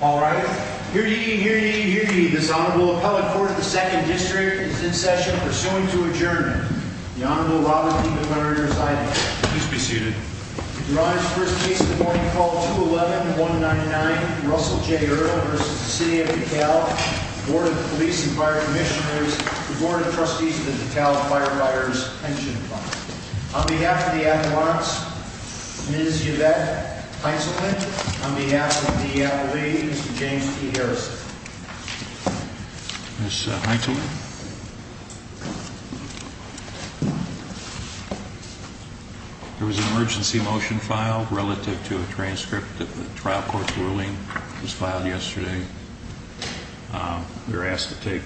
All right. Hear ye, hear ye, hear ye. This Honorable Appellate Court of the 2nd District is in session, pursuant to adjournment. The Honorable Robert D. McMurray, residing. Please be seated. Your Honor's first case of the morning, call 211-199, Russell J. Ertl v. City of DeKalb, Board of Police and Fire Commissioners, the Board of Trustees of the DeKalb Firefighters Pension Fund. On behalf of the ad valance, Ms. Yvette Heinzelman. On behalf of the League, Mr. James T. Harrison. Ms. Heinzelman. There was an emergency motion filed relative to a transcript that the trial court's ruling was filed yesterday. We were asked to take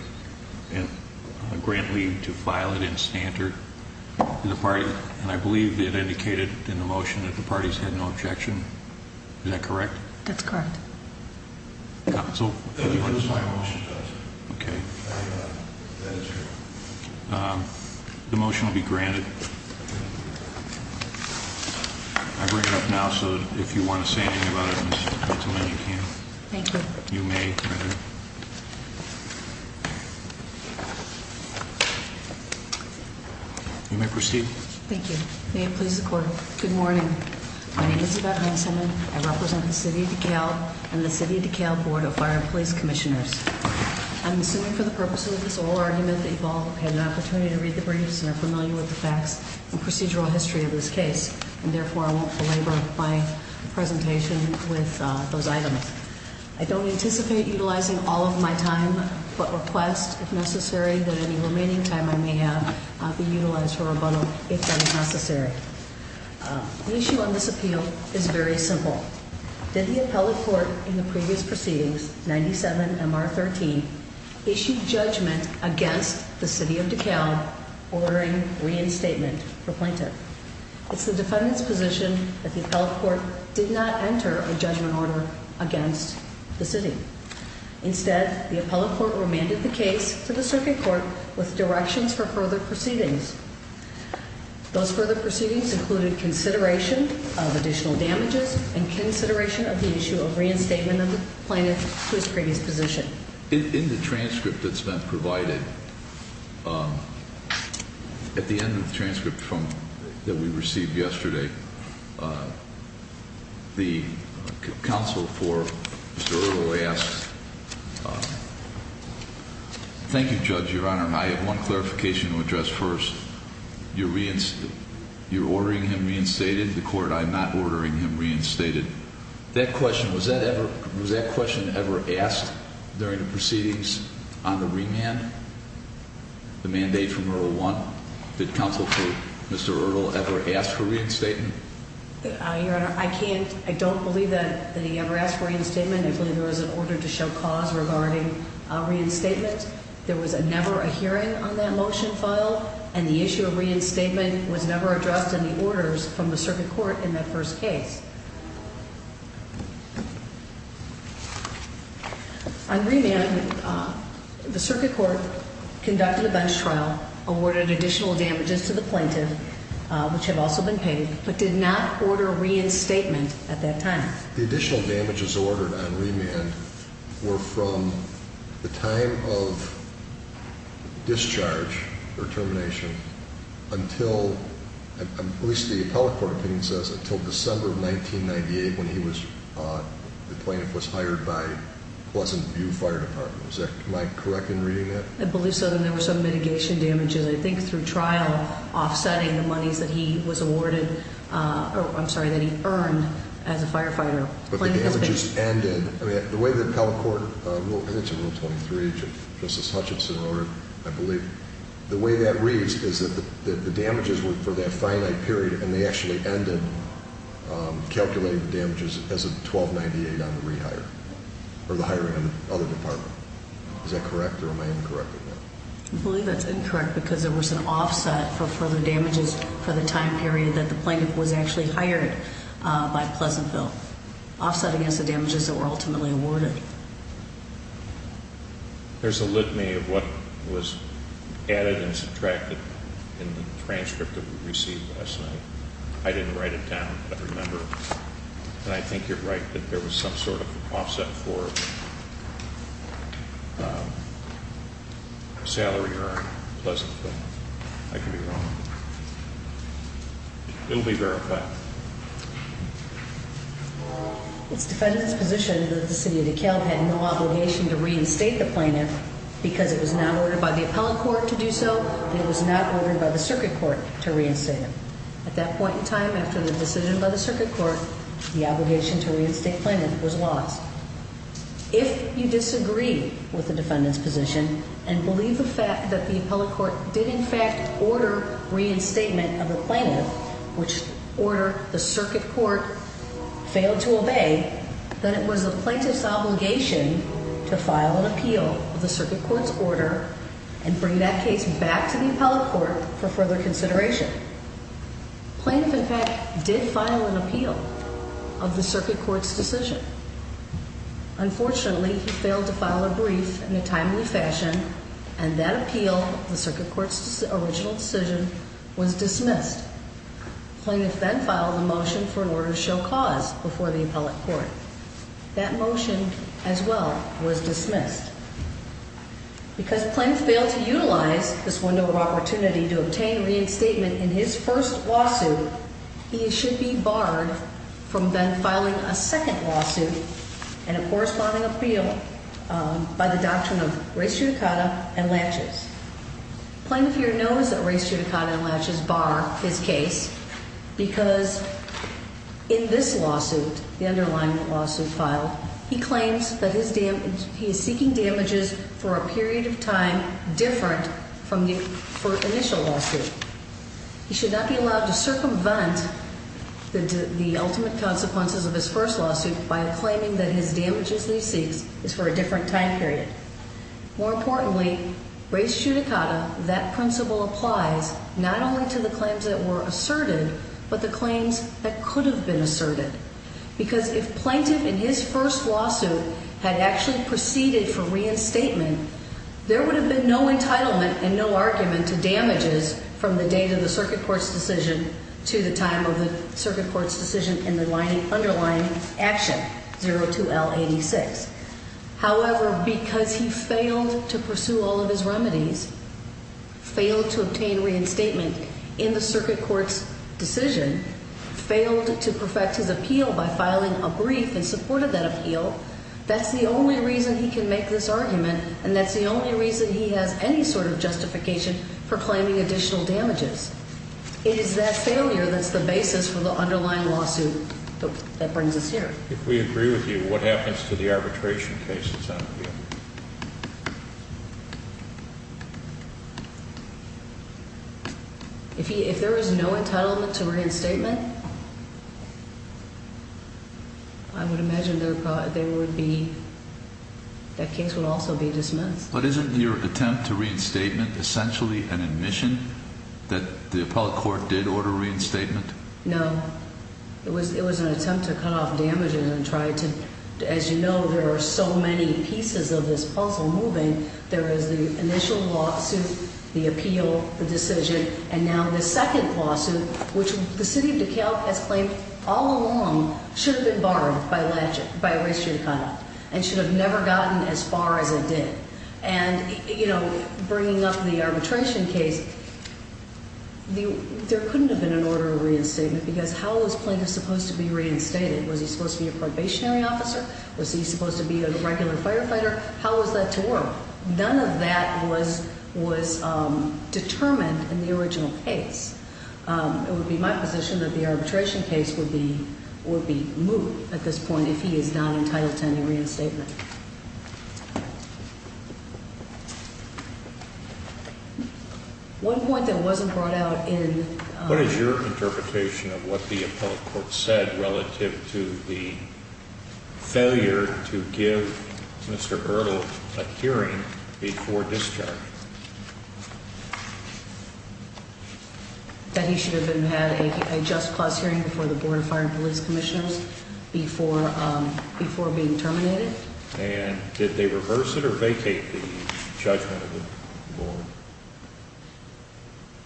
a grant leave to file it in standard the party, and I believe it indicated in the motion that the parties had no objection. Is that correct? That's correct. Okay. The motion will be granted. I bring it up now, so if you want to say anything about it, Ms. Heinzelman, you can. Thank you. You may, Your Honor. You may proceed. Thank you. May it please the Court. Good morning. My name is Yvette Heinzelman. I represent the City of DeKalb and the City of DeKalb Board of Fire and Police Commissioners. I'm assuming for the purposes of this oral argument that you've all had an opportunity to read the briefs and are familiar with the facts and procedural history of this case, and therefore I won't belabor my presentation with those items. I don't anticipate utilizing all of my time, but request, if necessary, that any remaining time I may have be utilized for rebuttal if that is necessary. The issue on this appeal is very simple. Did the appellate court in the previous proceedings, 97MR13, issue judgment against the City of DeKalb ordering reinstatement for plaintiff? It's the defendant's position that the appellate court did not enter a judgment order against the City. Instead, the appellate court remanded the case to the Circuit Court with directions for further proceedings. Those further proceedings included consideration of additional damages and consideration of the issue of reinstatement of the plaintiff to his previous position. In the transcript that's been provided, at the end of the transcript that we received yesterday, the counsel for Mr. Earl asked, Thank you, Judge, Your Honor. I have one clarification to address first. You're ordering him reinstated? The court, I'm not ordering him reinstated. That question, was that question ever asked during the proceedings on the remand, the mandate from Rule 1? Did counsel for Mr. Earl ever ask for reinstatement? Your Honor, I don't believe that he ever asked for reinstatement. I believe there was an order to show cause regarding reinstatement. There was never a hearing on that motion file, and the issue of reinstatement was never addressed in the orders from the Circuit Court in that first case. On remand, the Circuit Court conducted a bench trial, awarded additional damages to the plaintiff, which have also been paid, but did not order reinstatement at that time. The additional damages ordered on remand were from the time of discharge or termination until, at least the appellate court opinion says, until December of 1998 when he was, the plaintiff was hired by Pleasant View Fire Department. Am I correct in reading that? I believe so. Then there were some mitigation damages, I think through trial, offsetting the monies that he was awarded, or I'm sorry, that he earned as a firefighter. But the damages ended, I mean, the way the appellate court, I think it's in Rule 23, Justice Hutchinson or I believe, the way that reads is that the damages were for that finite period and they actually ended calculating the damages as of 1298 on the rehire, or the hiring of the other department. Is that correct or am I incorrect in that? I believe that's incorrect because there was an offset for further damages for the time period that the plaintiff was actually hired by Pleasantville, offsetting against the damages that were ultimately awarded. There's a litany of what was added and subtracted in the transcript that we received last night. I didn't write it down, but remember, and I think you're right, that there was some sort of offset for salary earned Pleasantville. I could be wrong. It will be verified. It's defendant's position that the city of DeKalb had no obligation to reinstate the plaintiff because it was not ordered by the appellate court to do so. It was not ordered by the circuit court to reinstate him. At that point in time, after the decision by the circuit court, the obligation to reinstate plaintiff was lost. If you disagree with the defendant's position and believe the fact that the appellate court did in fact order reinstatement of the plaintiff, which order the circuit court failed to obey, then it was the plaintiff's obligation to file an appeal of the circuit court's order and bring that case back to the appellate court for further consideration. Plaintiff, in fact, did file an appeal of the circuit court's decision. Unfortunately, he failed to file a brief in a timely fashion, and that appeal, the circuit court's original decision, was dismissed. Plaintiff then filed a motion for an order to show cause before the appellate court. That motion, as well, was dismissed. Because plaintiff failed to utilize this window of opportunity to obtain reinstatement in his first lawsuit and a corresponding appeal by the doctrine of race judicata and latches. Plaintiff here knows that race judicata and latches bar his case because in this lawsuit, the underlying lawsuit filed, he claims that he is seeking damages for a period of time different from the first initial lawsuit. He should not be allowed to circumvent the ultimate consequences of his lawsuit by claiming that his damages he seeks is for a different time period. More importantly, race judicata, that principle applies not only to the claims that were asserted, but the claims that could have been asserted. Because if plaintiff in his first lawsuit had actually proceeded for reinstatement, there would have been no entitlement and no argument to damages from the date of the circuit court's decision to the time of the circuit court's decision in the underlying action, 02L86. However, because he failed to pursue all of his remedies, failed to obtain reinstatement in the circuit court's decision, failed to perfect his appeal by filing a brief and supported that appeal, that's the only reason he can make this argument and that's the only reason he has any sort of justification for claiming additional damages. It is that failure that's the basis for the underlying lawsuit that brings us here. If we agree with you, what happens to the arbitration cases? If there is no entitlement to reinstatement, I would imagine there would be, that case would also be dismissed. But isn't your attempt to the appellate court did order reinstatement? No, it was, it was an attempt to cut off damages and try to, as you know, there are so many pieces of this puzzle moving. There is the initial lawsuit, the appeal, the decision, and now the second lawsuit, which the city of DeKalb has claimed all along should have been barred by race judicata and should have never gotten as far as it and, you know, bringing up the arbitration case, there couldn't have been an order of reinstatement because how was plaintiff supposed to be reinstated? Was he supposed to be a probationary officer? Was he supposed to be a regular firefighter? How was that to work? None of that was determined in the original case. It would be my position that the arbitration case would be moved at this point if he is not entitled to any reinstatement. Okay. One point that wasn't brought out in what is your interpretation of what the appellate court said relative to the failure to give Mr. Ertl a hearing before discharge that he should have been had a just cause hearing before the board of fire and police commissioners before being terminated. And did they reverse it or vacate the judgment of the board?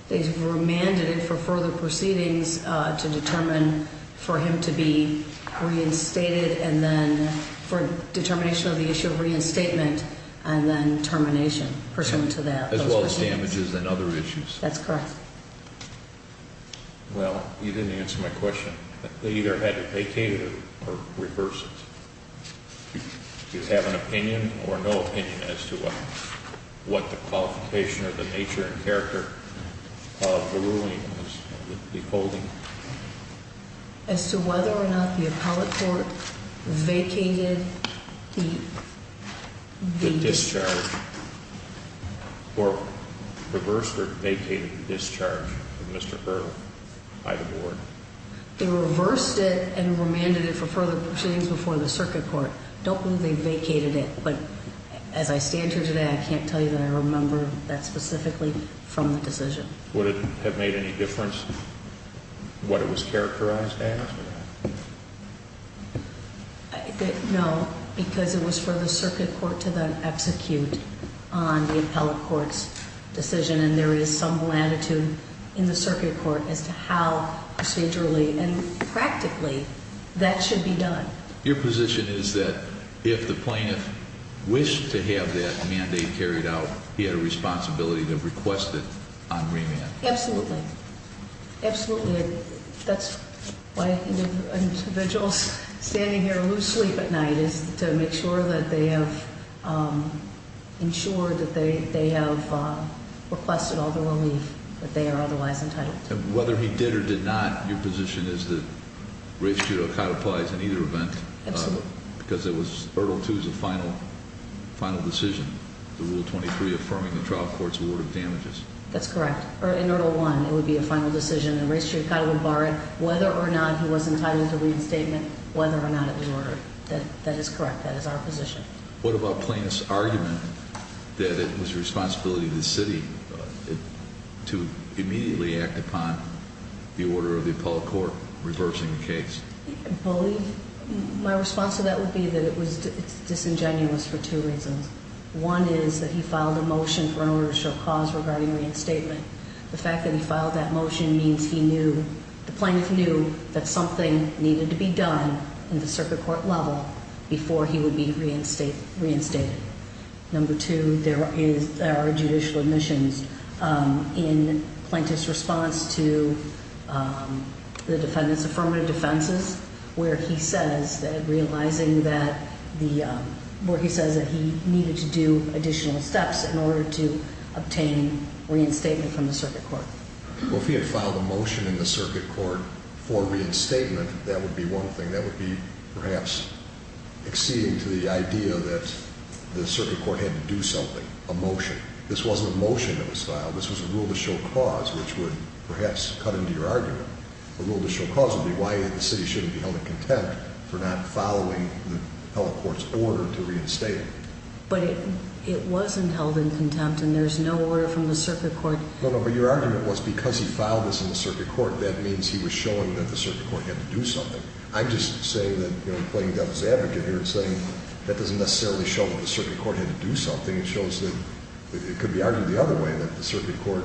They remanded it for further proceedings to determine for him to be reinstated and then for determination of the issue of reinstatement and then termination pursuant to that as well as damages and other issues. That's correct. Well, you didn't answer my question. They either had to vacate it or reverse it. Do you have an opinion or no opinion as to what the qualification or the nature and character of the ruling was withholding? As to whether or not the appellate court vacated the discharge or reversed or vacated the discharge of Mr. Ertl by the board. They reversed it and remanded it for further proceedings before the circuit court. Don't believe they vacated it, but as I stand here today, I can't tell you that I remember that specifically from the decision. Would it have made any difference what it was characterized as? No, because it was for the circuit court to then execute on the appellate court's decision. And there is some latitude in the circuit court as to how procedurally and practically that should be done. Your position is that if the plaintiff wished to have that mandate carried out, he had a responsibility to request it on remand? Absolutely. Absolutely. That's why individuals standing here lose sleep at night, is to make sure that they have ensured that they have requested all the relief that they are otherwise entitled to. Whether he did or did not, your position is that race judo codifies in either event? Absolutely. Because it was Ertl 2's final decision, the Rule 23 affirming the trial court's damages. That's correct. In Ertl 1, it would be a final decision and race judicata would bar it, whether or not he was entitled to reinstatement, whether or not it was ordered. That is correct. That is our position. What about plaintiff's argument that it was the responsibility of the city to immediately act upon the order of the appellate court reversing the case? I believe my response to that would be that it was disingenuous for two reasons. One is that he reinstated. The fact that he filed that motion means the plaintiff knew that something needed to be done in the circuit court level before he would be reinstated. Number two, there are judicial admissions. In plaintiff's response to the defendant's affirmative defenses, where he says that he needed to do additional steps in order to obtain reinstatement from the circuit court. Well, if he had filed a motion in the circuit court for reinstatement, that would be one thing. That would be perhaps exceeding to the idea that the circuit court had to do something, a motion. This wasn't a motion that was filed. This was a rule of the show clause, which would perhaps cut into your argument. The rule of the show clause would be why the city shouldn't be held in contempt for not following the appellate court's order to reinstate him. But it wasn't held in contempt and there's no order from the circuit court. No, no, but your argument was because he filed this in the circuit court, that means he was showing that the circuit court had to do something. I'm just saying that, you know, I'm playing devil's advocate here and saying that doesn't necessarily show that the circuit court had to do something. It shows that it could be argued the other way, that the circuit court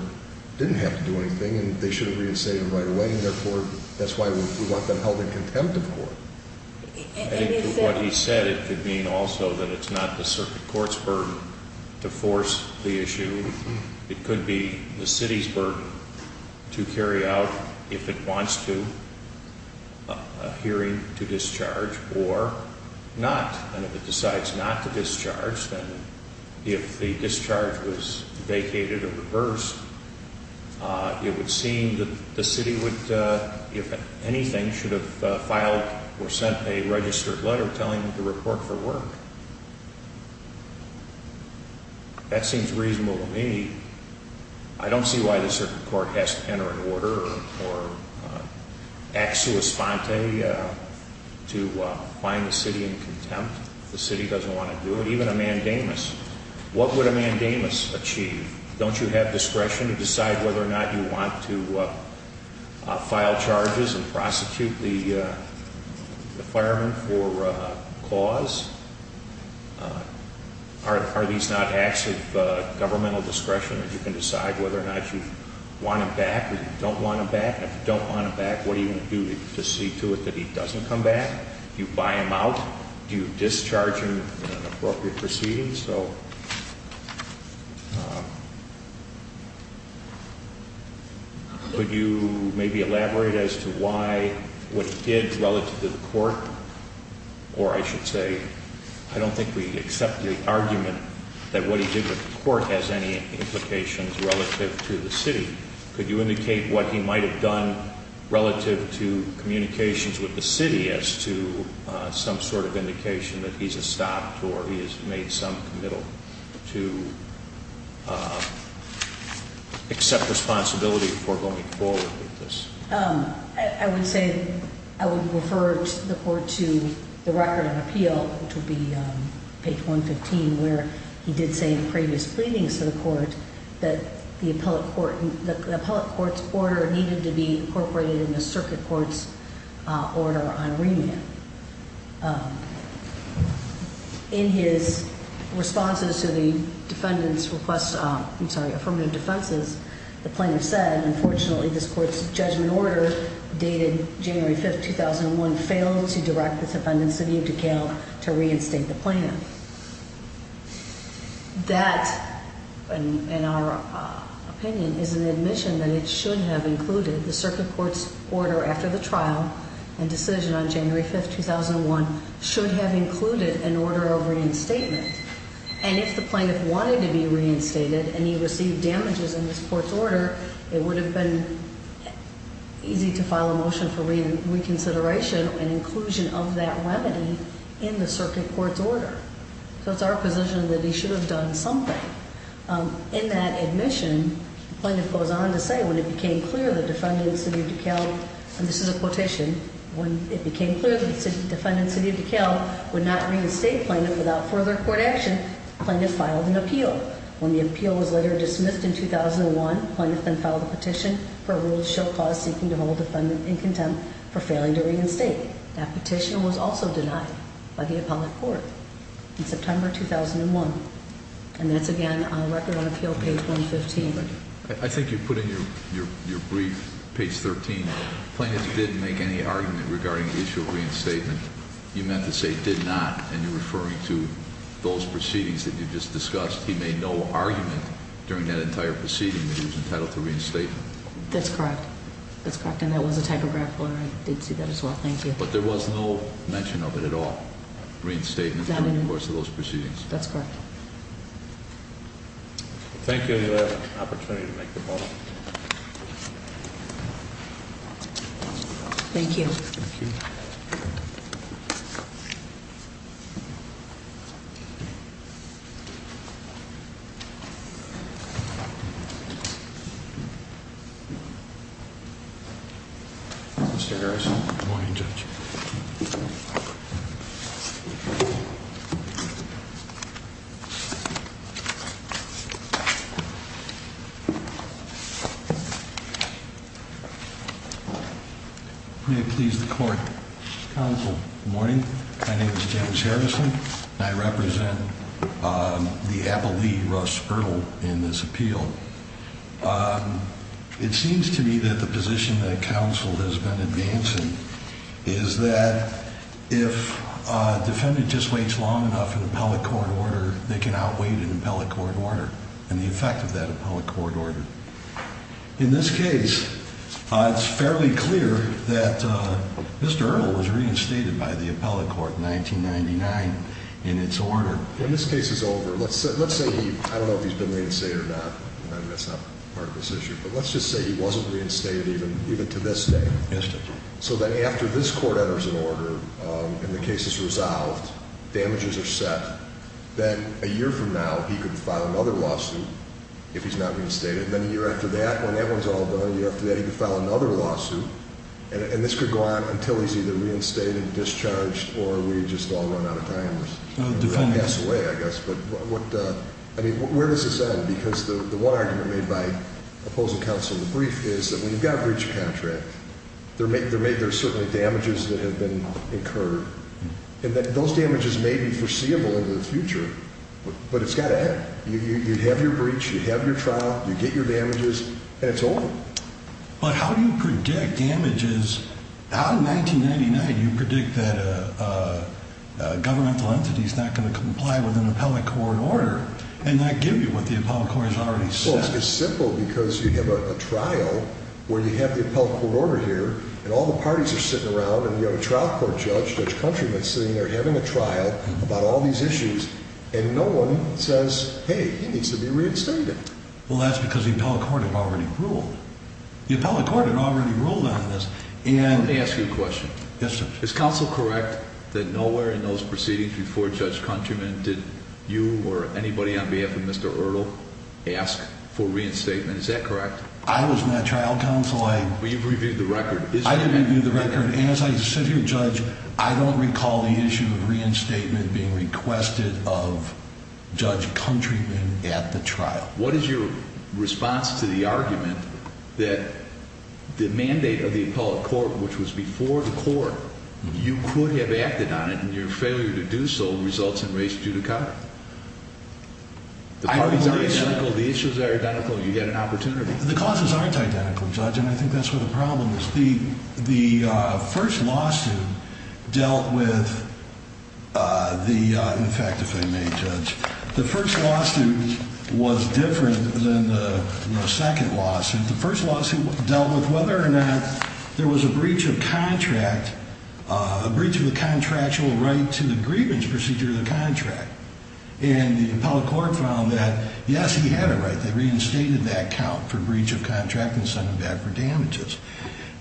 didn't have to do anything and they should have been held in contempt of court. And to what he said, it could mean also that it's not the circuit court's burden to force the issue. It could be the city's burden to carry out, if it wants to, a hearing to discharge or not. And if it decides not to discharge, then if the discharge was filed or sent a registered letter telling him to report for work, that seems reasonable to me. I don't see why the circuit court has to enter an order or act sua sponte to find the city in contempt if the city doesn't want to do it. Even a mandamus. What would a mandamus achieve? Don't you have discretion to decide whether or not you want to file charges and prosecute the fireman for cause? Are these not acts of governmental discretion that you can decide whether or not you want him back or you don't want him back? And if you don't want him back, what are you going to do to see to it that he doesn't come back? Do you buy him out? Do you discharge him in an appropriate proceeding? So could you maybe elaborate as to why, what he did relative to the court? Or I should say, I don't think we accept the argument that what he did with the court has any implications relative to the city. Could you indicate what he might have done relative to communications with the city as to some sort of indication that he's stopped or he has made some committal to accept responsibility for going forward with this? I would say I would refer the court to the record on appeal, which would be page 115, where he did say in previous pleadings to the court that the appellate court, the appellate court's order needed to be incorporated in the in his responses to the defendant's request, I'm sorry, affirmative defenses. The plaintiff said, unfortunately, this court's judgment order dated January 5th, 2001 failed to direct the defendant's city of DeKalb to reinstate the plan. That, in our opinion, is an admission that it should have included an order of reinstatement. And if the plaintiff wanted to be reinstated and he received damages in this court's order, it would have been easy to file a motion for reconsideration and inclusion of that remedy in the circuit court's order. So it's our position that he should have done something in that admission. Plaintiff goes on to say when it became clear the defendant's city of DeKalb would not reinstate plaintiff without further court action, plaintiff filed an appeal. When the appeal was later dismissed in 2001, plaintiff then filed a petition for a rule to show cause seeking to hold defendant in contempt for failing to reinstate. That petition was also denied by the appellate court in September 2001. And that's again on record on appeal, page 115. I think you put in your brief, page 13, plaintiff didn't make any argument regarding the issue of reinstatement. You meant to say did not, and you're referring to those proceedings that you just discussed. He made no argument during that entire proceeding that he was entitled to reinstatement. That's correct. That's correct. And that was a typographical error. I did see that as well. Thank you. But there was no mention of it at all, reinstatement, during the course of those proceedings. That's correct. Thank you for the opportunity to make the point. Thank you. Mr. Harris. Good morning Judge. May it please the court. Counsel. Good morning. My name is James Harrison. I represent the Appellee, Russ Ertl, in this appeal. It seems to me that the position that counsel has been advancing is that if a defendant just waits long enough in appellate court order, they can outweigh an appellate court order and the effect of that appellate court order. In this case, it's fairly clear that Mr. Ertl was reinstated by the appellate court in 1999 in its order. When this case is over, let's say he, I don't know if he's been reinstated or not, and that's not part of this issue, but let's just say he wasn't reinstated even to this day. Yes, Judge. So that after this court enters an order and the case is resolved, damages are set, then a year from now he could file another lawsuit if he's not reinstated. Then a year after that, when that one's all done, a year after that he could file another lawsuit and this could go on until he's either reinstated, discharged, or we just all run out of time and pass away, I guess. But what, I mean, where does this end? Because the one argument made by opposing counsel in the brief is that when you've got a breach of contract, there may, there may, there's certainly damages that have been incurred and that those damages may be foreseeable in the future, but it's got to happen. You have your breach, you have your trial, you get your damages, and it's over. But how do you predict damages? Out of 1999, you predict that a governmental entity is not going to comply with an appellate court order and not give you what the appellate court has already said. Well, it's simple because you have a trial where you have appellate court order here and all the parties are sitting around and you have a trial court judge, Judge Countryman, sitting there having a trial about all these issues and no one says, hey, he needs to be reinstated. Well, that's because the appellate court had already ruled. The appellate court had already ruled on this. And let me ask you a question. Yes, Judge. Is counsel correct that nowhere in those proceedings before Judge Countryman did you or anybody on behalf of Mr. Ertl ask for reinstatement? Is that correct? I was not trial counsel. Well, you've reviewed the record. I didn't review the record. And as I sit here, Judge, I don't recall the issue of reinstatement being requested of Judge Countryman at the trial. What is your response to the argument that the mandate of the appellate court, which was before the court, you could have acted on it, and your failure to do so results in race judicata? The parties are identical. The issues are identical. You get an opportunity. The causes aren't identical, Judge, and I think that's where the problem is. The first lawsuit dealt with the, in fact, if I may, Judge, the first lawsuit was different than the second lawsuit. The first lawsuit dealt with whether or not there was a breach of contract, a breach of the contractual right to the grievance procedure of the contract. And the appellate court found that, yes, he had a right. They reinstated that count for breach of contract and sent him back for damages.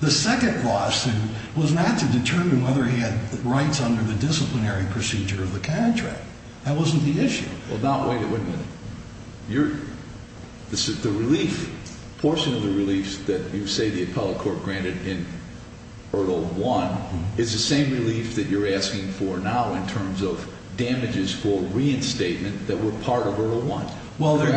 The second lawsuit was not to determine whether he had rights under the disciplinary procedure of the contract. That wasn't the issue. Well, now wait a minute. You're, this is the relief, portion of the relief that you say the appellate court granted in Ertl 1. It's the same relief that you're asking for now in terms of damages for reinstatement that were part of Ertl 1. Well, their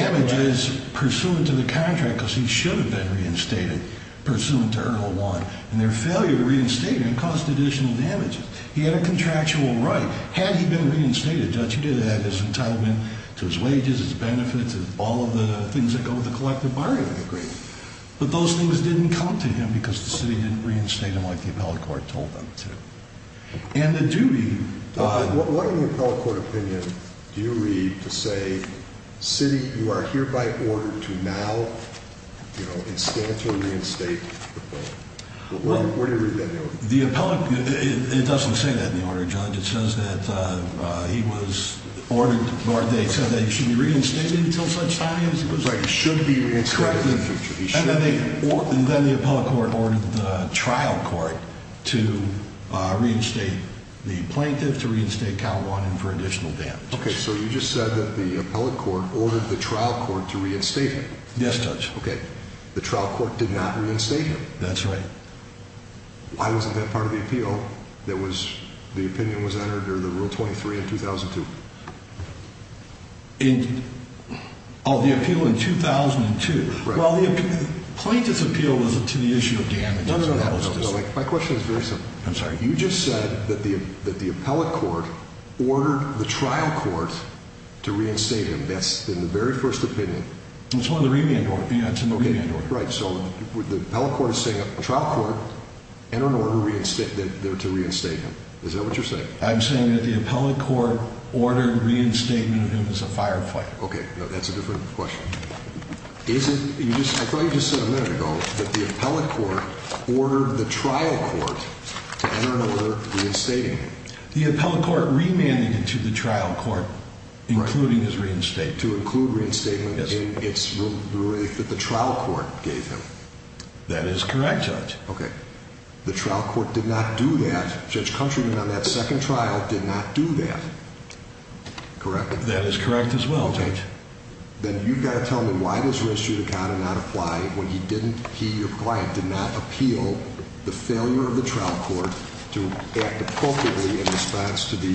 damage is pursuant to the contract because he should have been reinstated pursuant to Ertl 1, and their failure to reinstate him caused additional damages. He had a contractual right. Had he been reinstated, Judge, he did have his entitlement to his wages, his benefits, all of the things that go with the but those things didn't come to him because the city didn't reinstate him like the appellate court told them to. And the duty... What in the appellate court opinion do you read to say, City, you are hereby ordered to now, you know, instantly reinstate the appellant? Where do you read that now? The appellate, it doesn't say that in the order, Judge. It says that he was ordered, or they said that he should be reinstated until such time as he was... He should be reinstated in the future. And then the appellate court ordered the trial court to reinstate the plaintiff, to reinstate Cal 1, and for additional damages. Okay, so you just said that the appellate court ordered the trial court to reinstate him? Yes, Judge. Okay, the trial court did not reinstate him? That's right. Why wasn't that part of the appeal that was, the opinion was entered during the Rule 23 in 2002? Oh, the appeal in 2002. Well, the plaintiff's appeal was to the issue of damages. No, no, no. My question is very simple. I'm sorry. You just said that the appellate court ordered the trial court to reinstate him. That's in the very first opinion. It's one of the remand orders. Yeah, it's in the remand order. Right, so the appellate court is asking the trial court to reinstate him. Is that what you're saying? I'm saying that the appellate court ordered reinstatement of him as a firefighter. Okay, no, that's a different question. I thought you just said a minute ago that the appellate court ordered the trial court to enter another reinstatement. The appellate court remanded it to the trial court, including his reinstatement. To include reinstatement in its relief that the trial court gave him. That is correct, Judge. Okay, the trial court did not do that. Judge Countryman on that second trial did not do that. Correct. That is correct as well, Judge. Then you've got to tell me why does res judicata not apply when he didn't, he, your client, did not appeal the failure of the trial court to act appropriately in response to the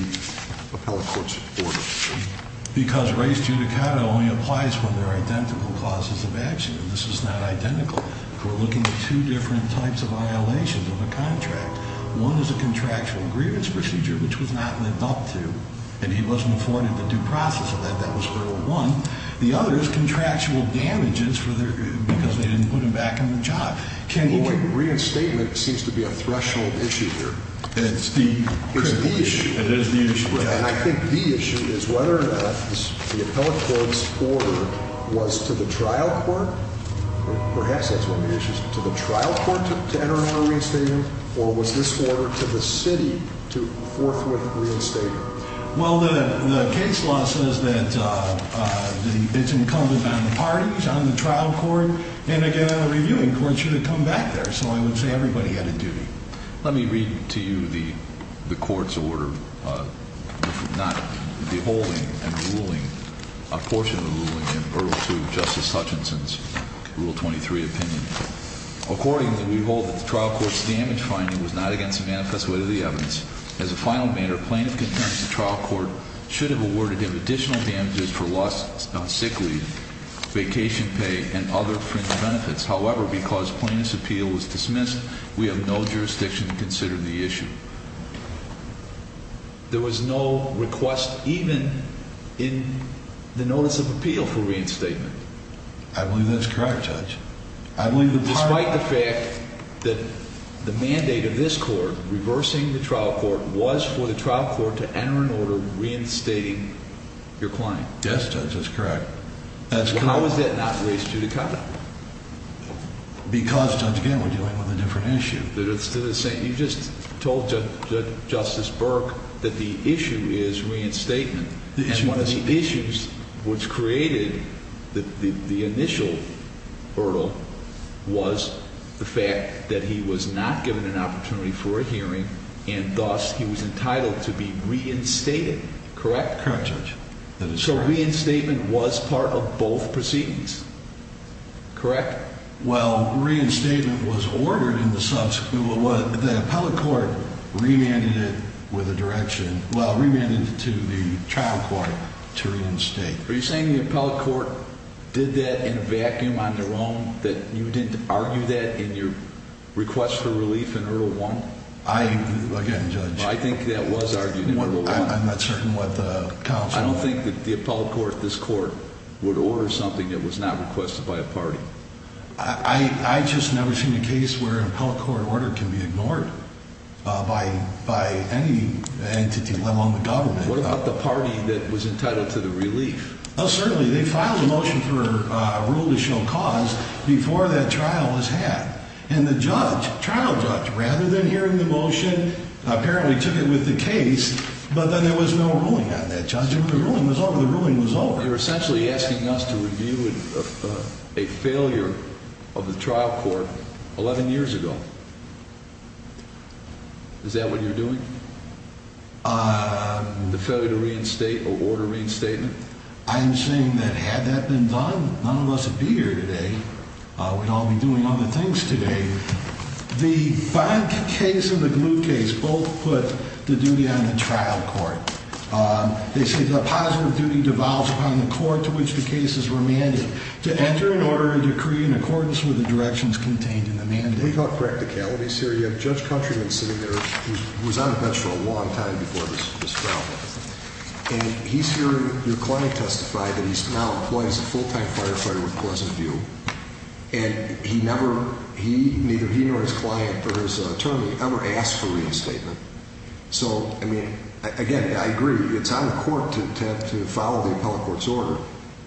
appellate court's order? Because res judicata only applies when there are identical causes of action. This is not identical. We're looking at two different types of violations of a contract. One is a contractual grievance procedure, which was not lived up to, and he wasn't afforded the due process of that. That was hurdle one. The other is contractual damages for their, because they didn't put him back in the job. Can you- Well, reinstatement seems to be a threshold issue here. It's the- It's the issue. It is the issue. And I think the issue is whether or not the appellate court's order was to the trial court, or perhaps that's one of the issues, to the trial court to enter into a reinstatement, or was this order to the city to forthwith reinstate him? Well, the case law says that it's incumbent on the parties, on the trial court, and again, the reviewing court should have come back there. So I would say everybody had a duty. Let me read to you the court's order. If not, the holding and ruling, a portion of the ruling, in hurdle two, Justice Hutchinson's Rule 23 opinion. Accordingly, we hold that the trial court's damage finding was not against the manifest way of the evidence. As a final matter, plaintiff contends the trial court should have awarded him additional damages for lost sick leave, vacation pay, and other fringe benefits. However, because plaintiff's appeal was dismissed, we have no jurisdiction to consider the issue. There was no request even in the notice of appeal for reinstatement. I believe that's correct, Judge. Despite the fact that the mandate of this court, reversing the trial court, was for the trial court to enter an order reinstating your client. Yes, Judge, that's correct. How is that not race judicata? Because, Judge, again, we're dealing with a different issue. You just told Justice Burke that the issue is reinstatement. And one of the issues which created the initial hurdle was the fact that he was not given an opportunity for a hearing, and thus he was entitled to be reinstated. Correct? Correct, Judge. So reinstatement was part of both proceedings, correct? Well, reinstatement was ordered in the subsequent. The appellate court remanded it with a direction, well, remanded it to the trial court to reinstate. Are you saying the appellate court did that in a vacuum on their own, that you didn't argue that in your request for relief in Urgell 1? Again, Judge. I think that was argued in Urgell 1. I'm not certain what the counsel ordered. I don't think that the appellate court, this court, would order something that was not requested by a party. I just never seen a case where an appellate court order can be ignored by any entity, let alone the government. What about the party that was entitled to the relief? Oh, certainly. They filed a motion for a rule to show cause before that trial was had. And the judge, trial judge, rather than hearing the motion, apparently took it with the case. But then there was no ruling on that, Judge. The ruling was over. The ruling was over. You're essentially asking us to review a failure of the trial court 11 years ago. Is that what you're doing? The failure to reinstate or order reinstatement? I'm saying that had that been done, none of us would be here today. We'd all be doing other things today. The bond case and the glue case both put the duty on the trial court. They say the positive duty devolves upon the court to which the case is remanded to enter and order a decree in accordance with the directions contained in the mandate. We've got practicalities here. You have Judge Countryman sitting there. He was on the bench for a long time before this trial. And he's hearing your client testify that he's now a full-time firefighter with Pleasant View. And he never, neither he nor his client or his attorney ever asked for reinstatement. So, I mean, again, I agree it's on the court to attempt to follow the appellate court's order.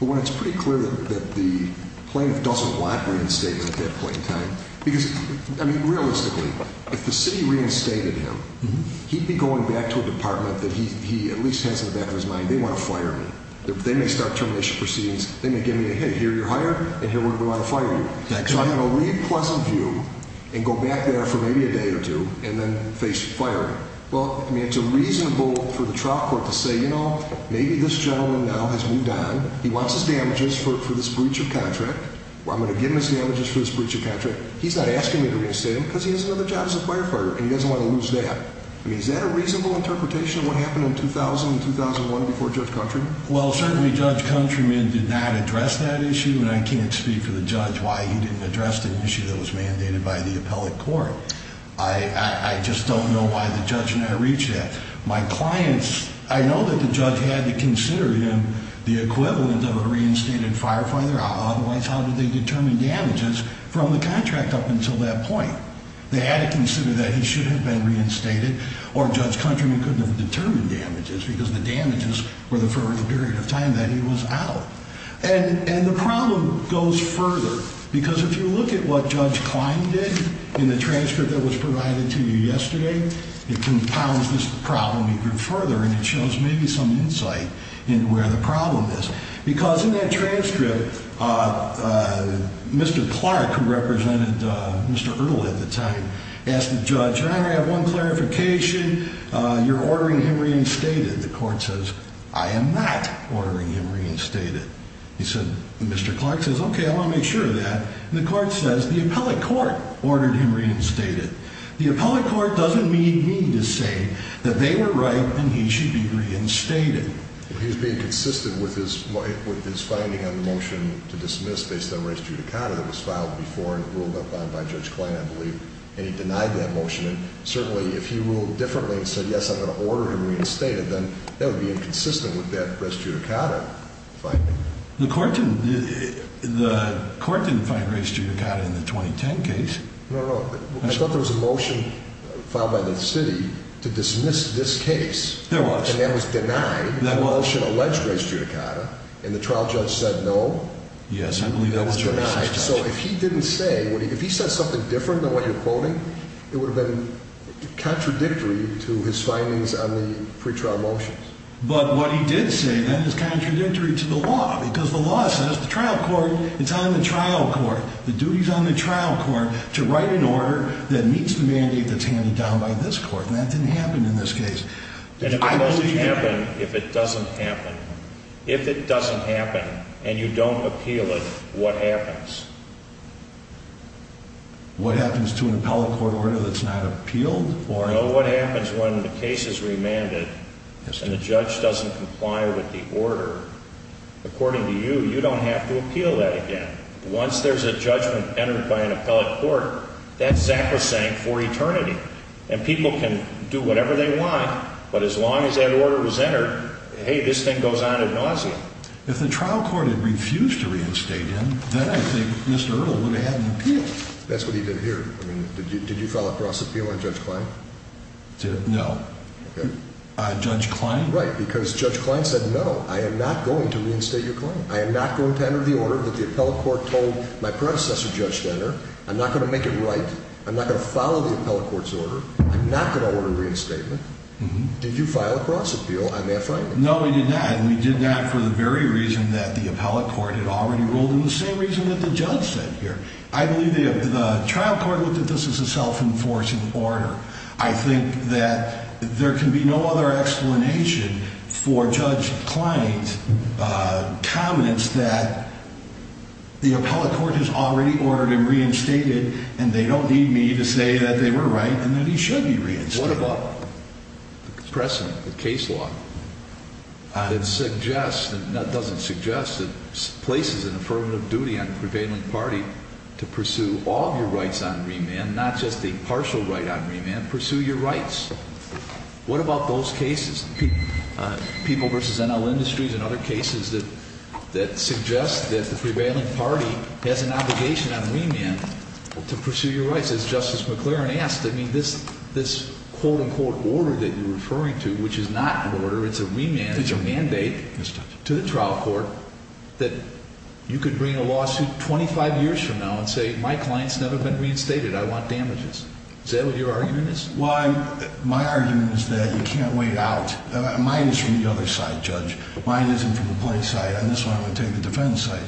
But when it's pretty clear that the plaintiff doesn't want reinstatement at that point in time, because, I mean, realistically, if the city reinstated him, he'd be going back to a department that he at least has in the back of his mind, they want to fire me. They may start proceedings. They may give me a hit. Here, you're hired. And here, we're going to fire you. So, I'm going to leave Pleasant View and go back there for maybe a day or two and then face firing. Well, I mean, it's a reasonable for the trial court to say, you know, maybe this gentleman now has moved on. He wants his damages for this breach of contract. I'm going to give him his damages for this breach of contract. He's not asking me to reinstate him because he has another job as a firefighter and he doesn't want to lose that. I mean, is that a reasonable interpretation of what happened in 2000 and 2001 before Judge Countryman? Well, certainly Judge Countryman did not address that issue and I can't speak for the judge why he didn't address the issue that was mandated by the appellate court. I just don't know why the judge did not reach that. My clients, I know that the judge had to consider him the equivalent of a reinstated firefighter. Otherwise, how did they determine damages from the contract up until that point? They had to consider that should have been reinstated or Judge Countryman couldn't have determined damages because the damages were there for a period of time that he was out. And the problem goes further because if you look at what Judge Klein did in the transcript that was provided to you yesterday, it compiles this problem even further and it shows maybe some insight into where the problem is. Because in that one clarification, you're ordering him reinstated. The court says, I am not ordering him reinstated. He said, Mr. Clark says, okay, I want to make sure of that. And the court says the appellate court ordered him reinstated. The appellate court doesn't need me to say that they were right and he should be reinstated. He's being consistent with his, with his finding on the motion to dismiss based on race judicata that was filed before and ruled upon by Judge Klein, I believe. And he denied that motion. And certainly if he ruled differently and said, yes, I'm going to order him reinstated, then that would be inconsistent with that race judicata finding. The court didn't, the court didn't find race judicata in the 2010 case. No, no. I thought there was a motion filed by the city to dismiss this case. There was. And that was denied. That was. The motion alleged race judicata and the trial judge said no. Yes, I believe that was. So if he didn't say, if he says something different than what you're quoting, it would have been contradictory to his findings on the pre-trial motions. But what he did say then is contradictory to the law because the law says the trial court, it's on the trial court, the duties on the trial court to write an order that meets the mandate that's handed down by this court. And that didn't happen in this case. And if it doesn't happen, if it doesn't happen, if it doesn't happen, what happens to an appellate court order that's not appealed? Well, what happens when the case is remanded and the judge doesn't comply with the order? According to you, you don't have to appeal that again. Once there's a judgment entered by an appellate court, that's sacrosanct for eternity and people can do whatever they want. But as long as that order was entered, hey, this thing goes on ad nauseum. If the trial court had refused to That's what he did here. I mean, did you file a cross appeal on Judge Klein? No. Judge Klein? Right. Because Judge Klein said, no, I am not going to reinstate your claim. I am not going to enter the order that the appellate court told my predecessor, Judge Denner. I'm not going to make it right. I'm not going to follow the appellate court's order. I'm not going to order reinstatement. Did you file a cross appeal on that finding? No, we did not. And we did that for the very reason that the appellate court had already said here. I believe the trial court looked at this as a self-enforcing order. I think that there can be no other explanation for Judge Klein's, uh, confidence that the appellate court has already ordered him reinstated and they don't need me to say that they were right and that he should be reinstated. What about the precedent, the case law, uh, that suggests and that doesn't suggest that places an affirmative duty on the prevailing party to pursue all of your rights on remand, not just the partial right on remand, pursue your rights. What about those cases, uh, people versus NL Industries and other cases that, that suggest that the prevailing party has an obligation on remand to pursue your rights? As Justice McLaren asked, I mean, this, this quote unquote order that you're referring to, which is not an order, it's a remand, it's a mandate to the trial court that you could bring a lawsuit 25 years from now and say, my client's never been reinstated. I want damages. Is that what your argument is? Well, my argument is that you can't wait out. Mine is from the other side, Judge. Mine isn't from the play side. And this one, I'm going to take the defense side.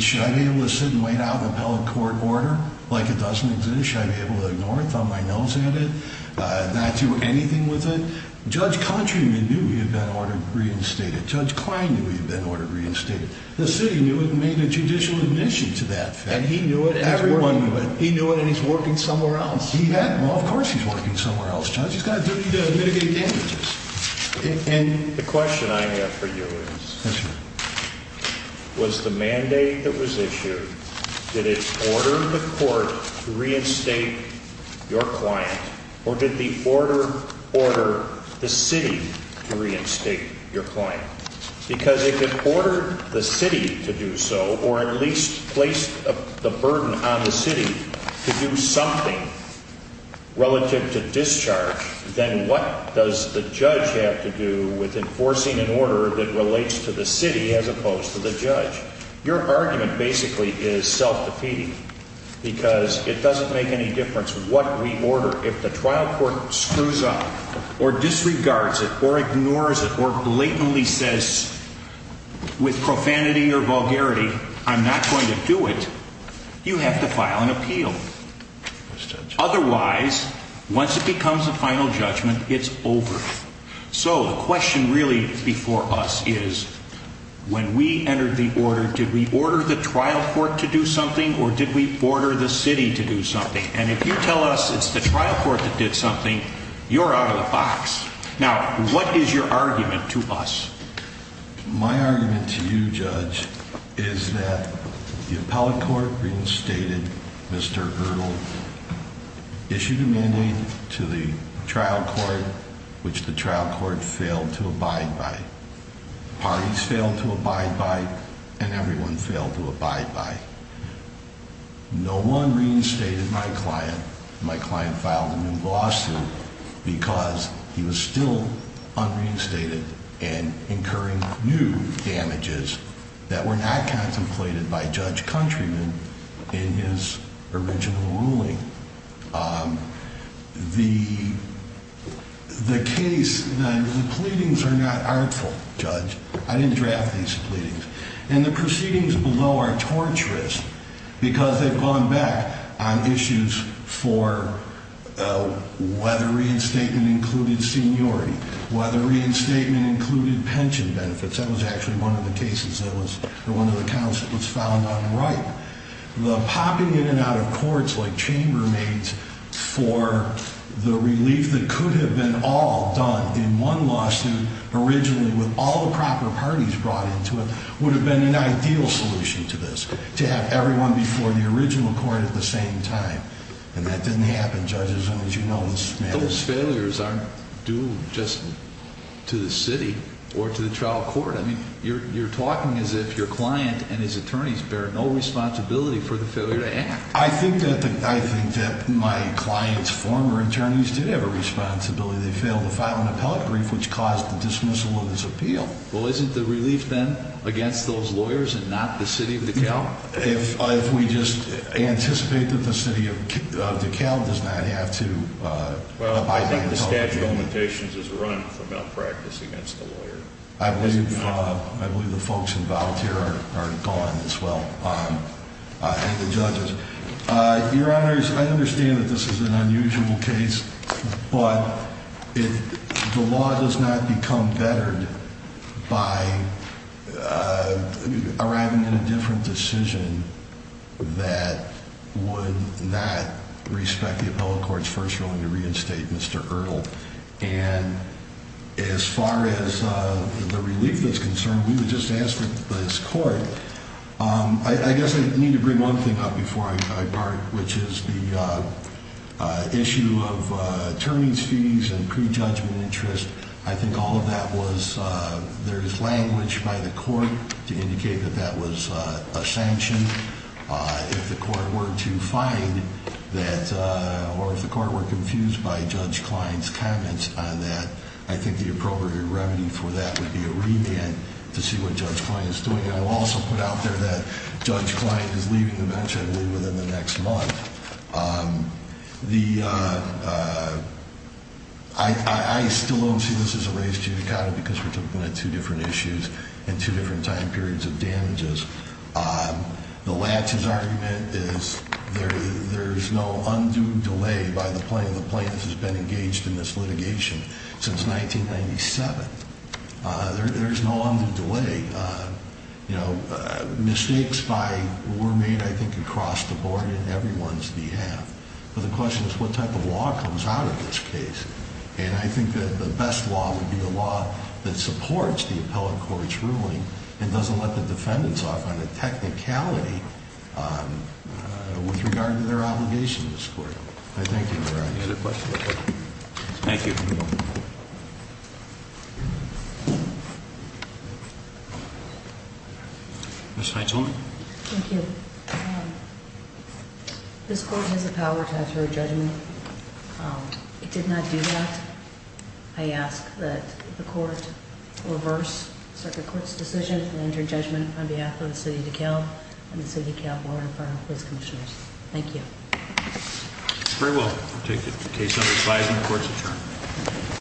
Should I be able to sit and wait out the appellate court order like it doesn't exist? Should I be on my nose at it? Uh, not do anything with it. Judge Countryman knew he had been ordered reinstated. Judge Klein knew he had been ordered reinstated. The city knew it and made a judicial admission to that. And he knew it. Everyone knew it. He knew it. And he's working somewhere else. He had, well, of course he's working somewhere else. Judge, he's got a duty to mitigate damages. And the question I have for you is, was the mandate that was issued, did it order the court to reinstate your client? Or did the order order the city to reinstate your client? Because if it ordered the city to do so, or at least placed the burden on the city to do something relative to discharge, then what does the judge have to do with enforcing an order that relates to the city as opposed to the judge? Your argument basically is self-defeating because it doesn't make any difference what we order. If the trial court screws up or disregards it or ignores it or blatantly says with profanity or vulgarity, I'm not going to do it. You have to file an appeal. Otherwise, once it becomes a final judgment, it's over. So the question really before us is, when we entered the order, did we order the trial court to do something or did we order the city to do something? And if you tell us it's the trial court that did something, you're out of the box. Now, what is your argument to us? My argument to you, Judge, is that the appellate court reinstated Mr. Erdl, issued a mandate to the trial court, which the trial court failed to abide by. Parties failed to abide by and everyone failed to abide by. No one reinstated my client. My client filed a new lawsuit because he was still unreinstated and incurring new damages that were not contemplated by Judge Countryman in his original ruling. The case, the pleadings are not artful, Judge. I didn't draft these pleadings. And the proceedings below are torturous because they've gone back on issues for whether reinstatement included seniority, whether reinstatement included pension benefits. That was actually one of the cases that was one of the counts that was filed on the right. The popping in and out of courts like chambermaids for the relief that could have been all done in one lawsuit originally with all the proper parties brought into it would have been an ideal solution to this, to have everyone before the original court at the same time. And that didn't happen, Judge, as long as you know this matter. Those failures aren't due just to the city or to the trial court. I mean, you're talking as if your client and his attorneys bear no responsibility for the failure to act. I think that I think that my client's former attorneys did have a responsibility. They failed to file an appellate brief, which caused the dismissal of his appeal. Well, isn't the relief then against those lawyers and not the city of DeKalb? If we just anticipate that the city of DeKalb does not have to. Well, I think the statute of limitations is run for malpractice against the lawyer. I believe I believe the folks involved here are gone as well and the judges. Your honors, I understand that this is an unusual case, but if the law does not become bettered by arriving in a different decision that would not respect the appellate court's first ruling to the relief that's concerned, we would just ask that this court. I guess I need to bring one thing up before I part, which is the issue of attorney's fees and pre-judgment interest. I think all of that was there is language by the court to indicate that that was a sanction. If the court were to find that or if the court were confused by Judge Klein's comments on that, I think the appropriate remedy for that would be a remand to see what Judge Klein is doing. And I will also put out there that Judge Klein is leaving the bench, I believe, within the next month. I still don't see this as a race to the counter because we're talking about two different issues and two different time periods of damages. The latches argument is there's no undue delay by the plaintiff who's been engaged in this litigation since 1997. There's no undue delay. Mistakes were made, I think, across the board on everyone's behalf, but the question is what type of law comes out of this case. And I think that the best law would be the law that supports the appellate court's ruling and doesn't let the defendants off on a technicality with regard to their obligation to this court. Thank you very much. Thank you. Ms. Heintzelman. Thank you. This court has the power to enter a judgment. It did not do that. I ask that the court reverse Circuit Court's decision and enter judgment on behalf of the City of California Fire and Police Commissioners. Thank you. Very well. We'll take the case under resizing court's adjournment.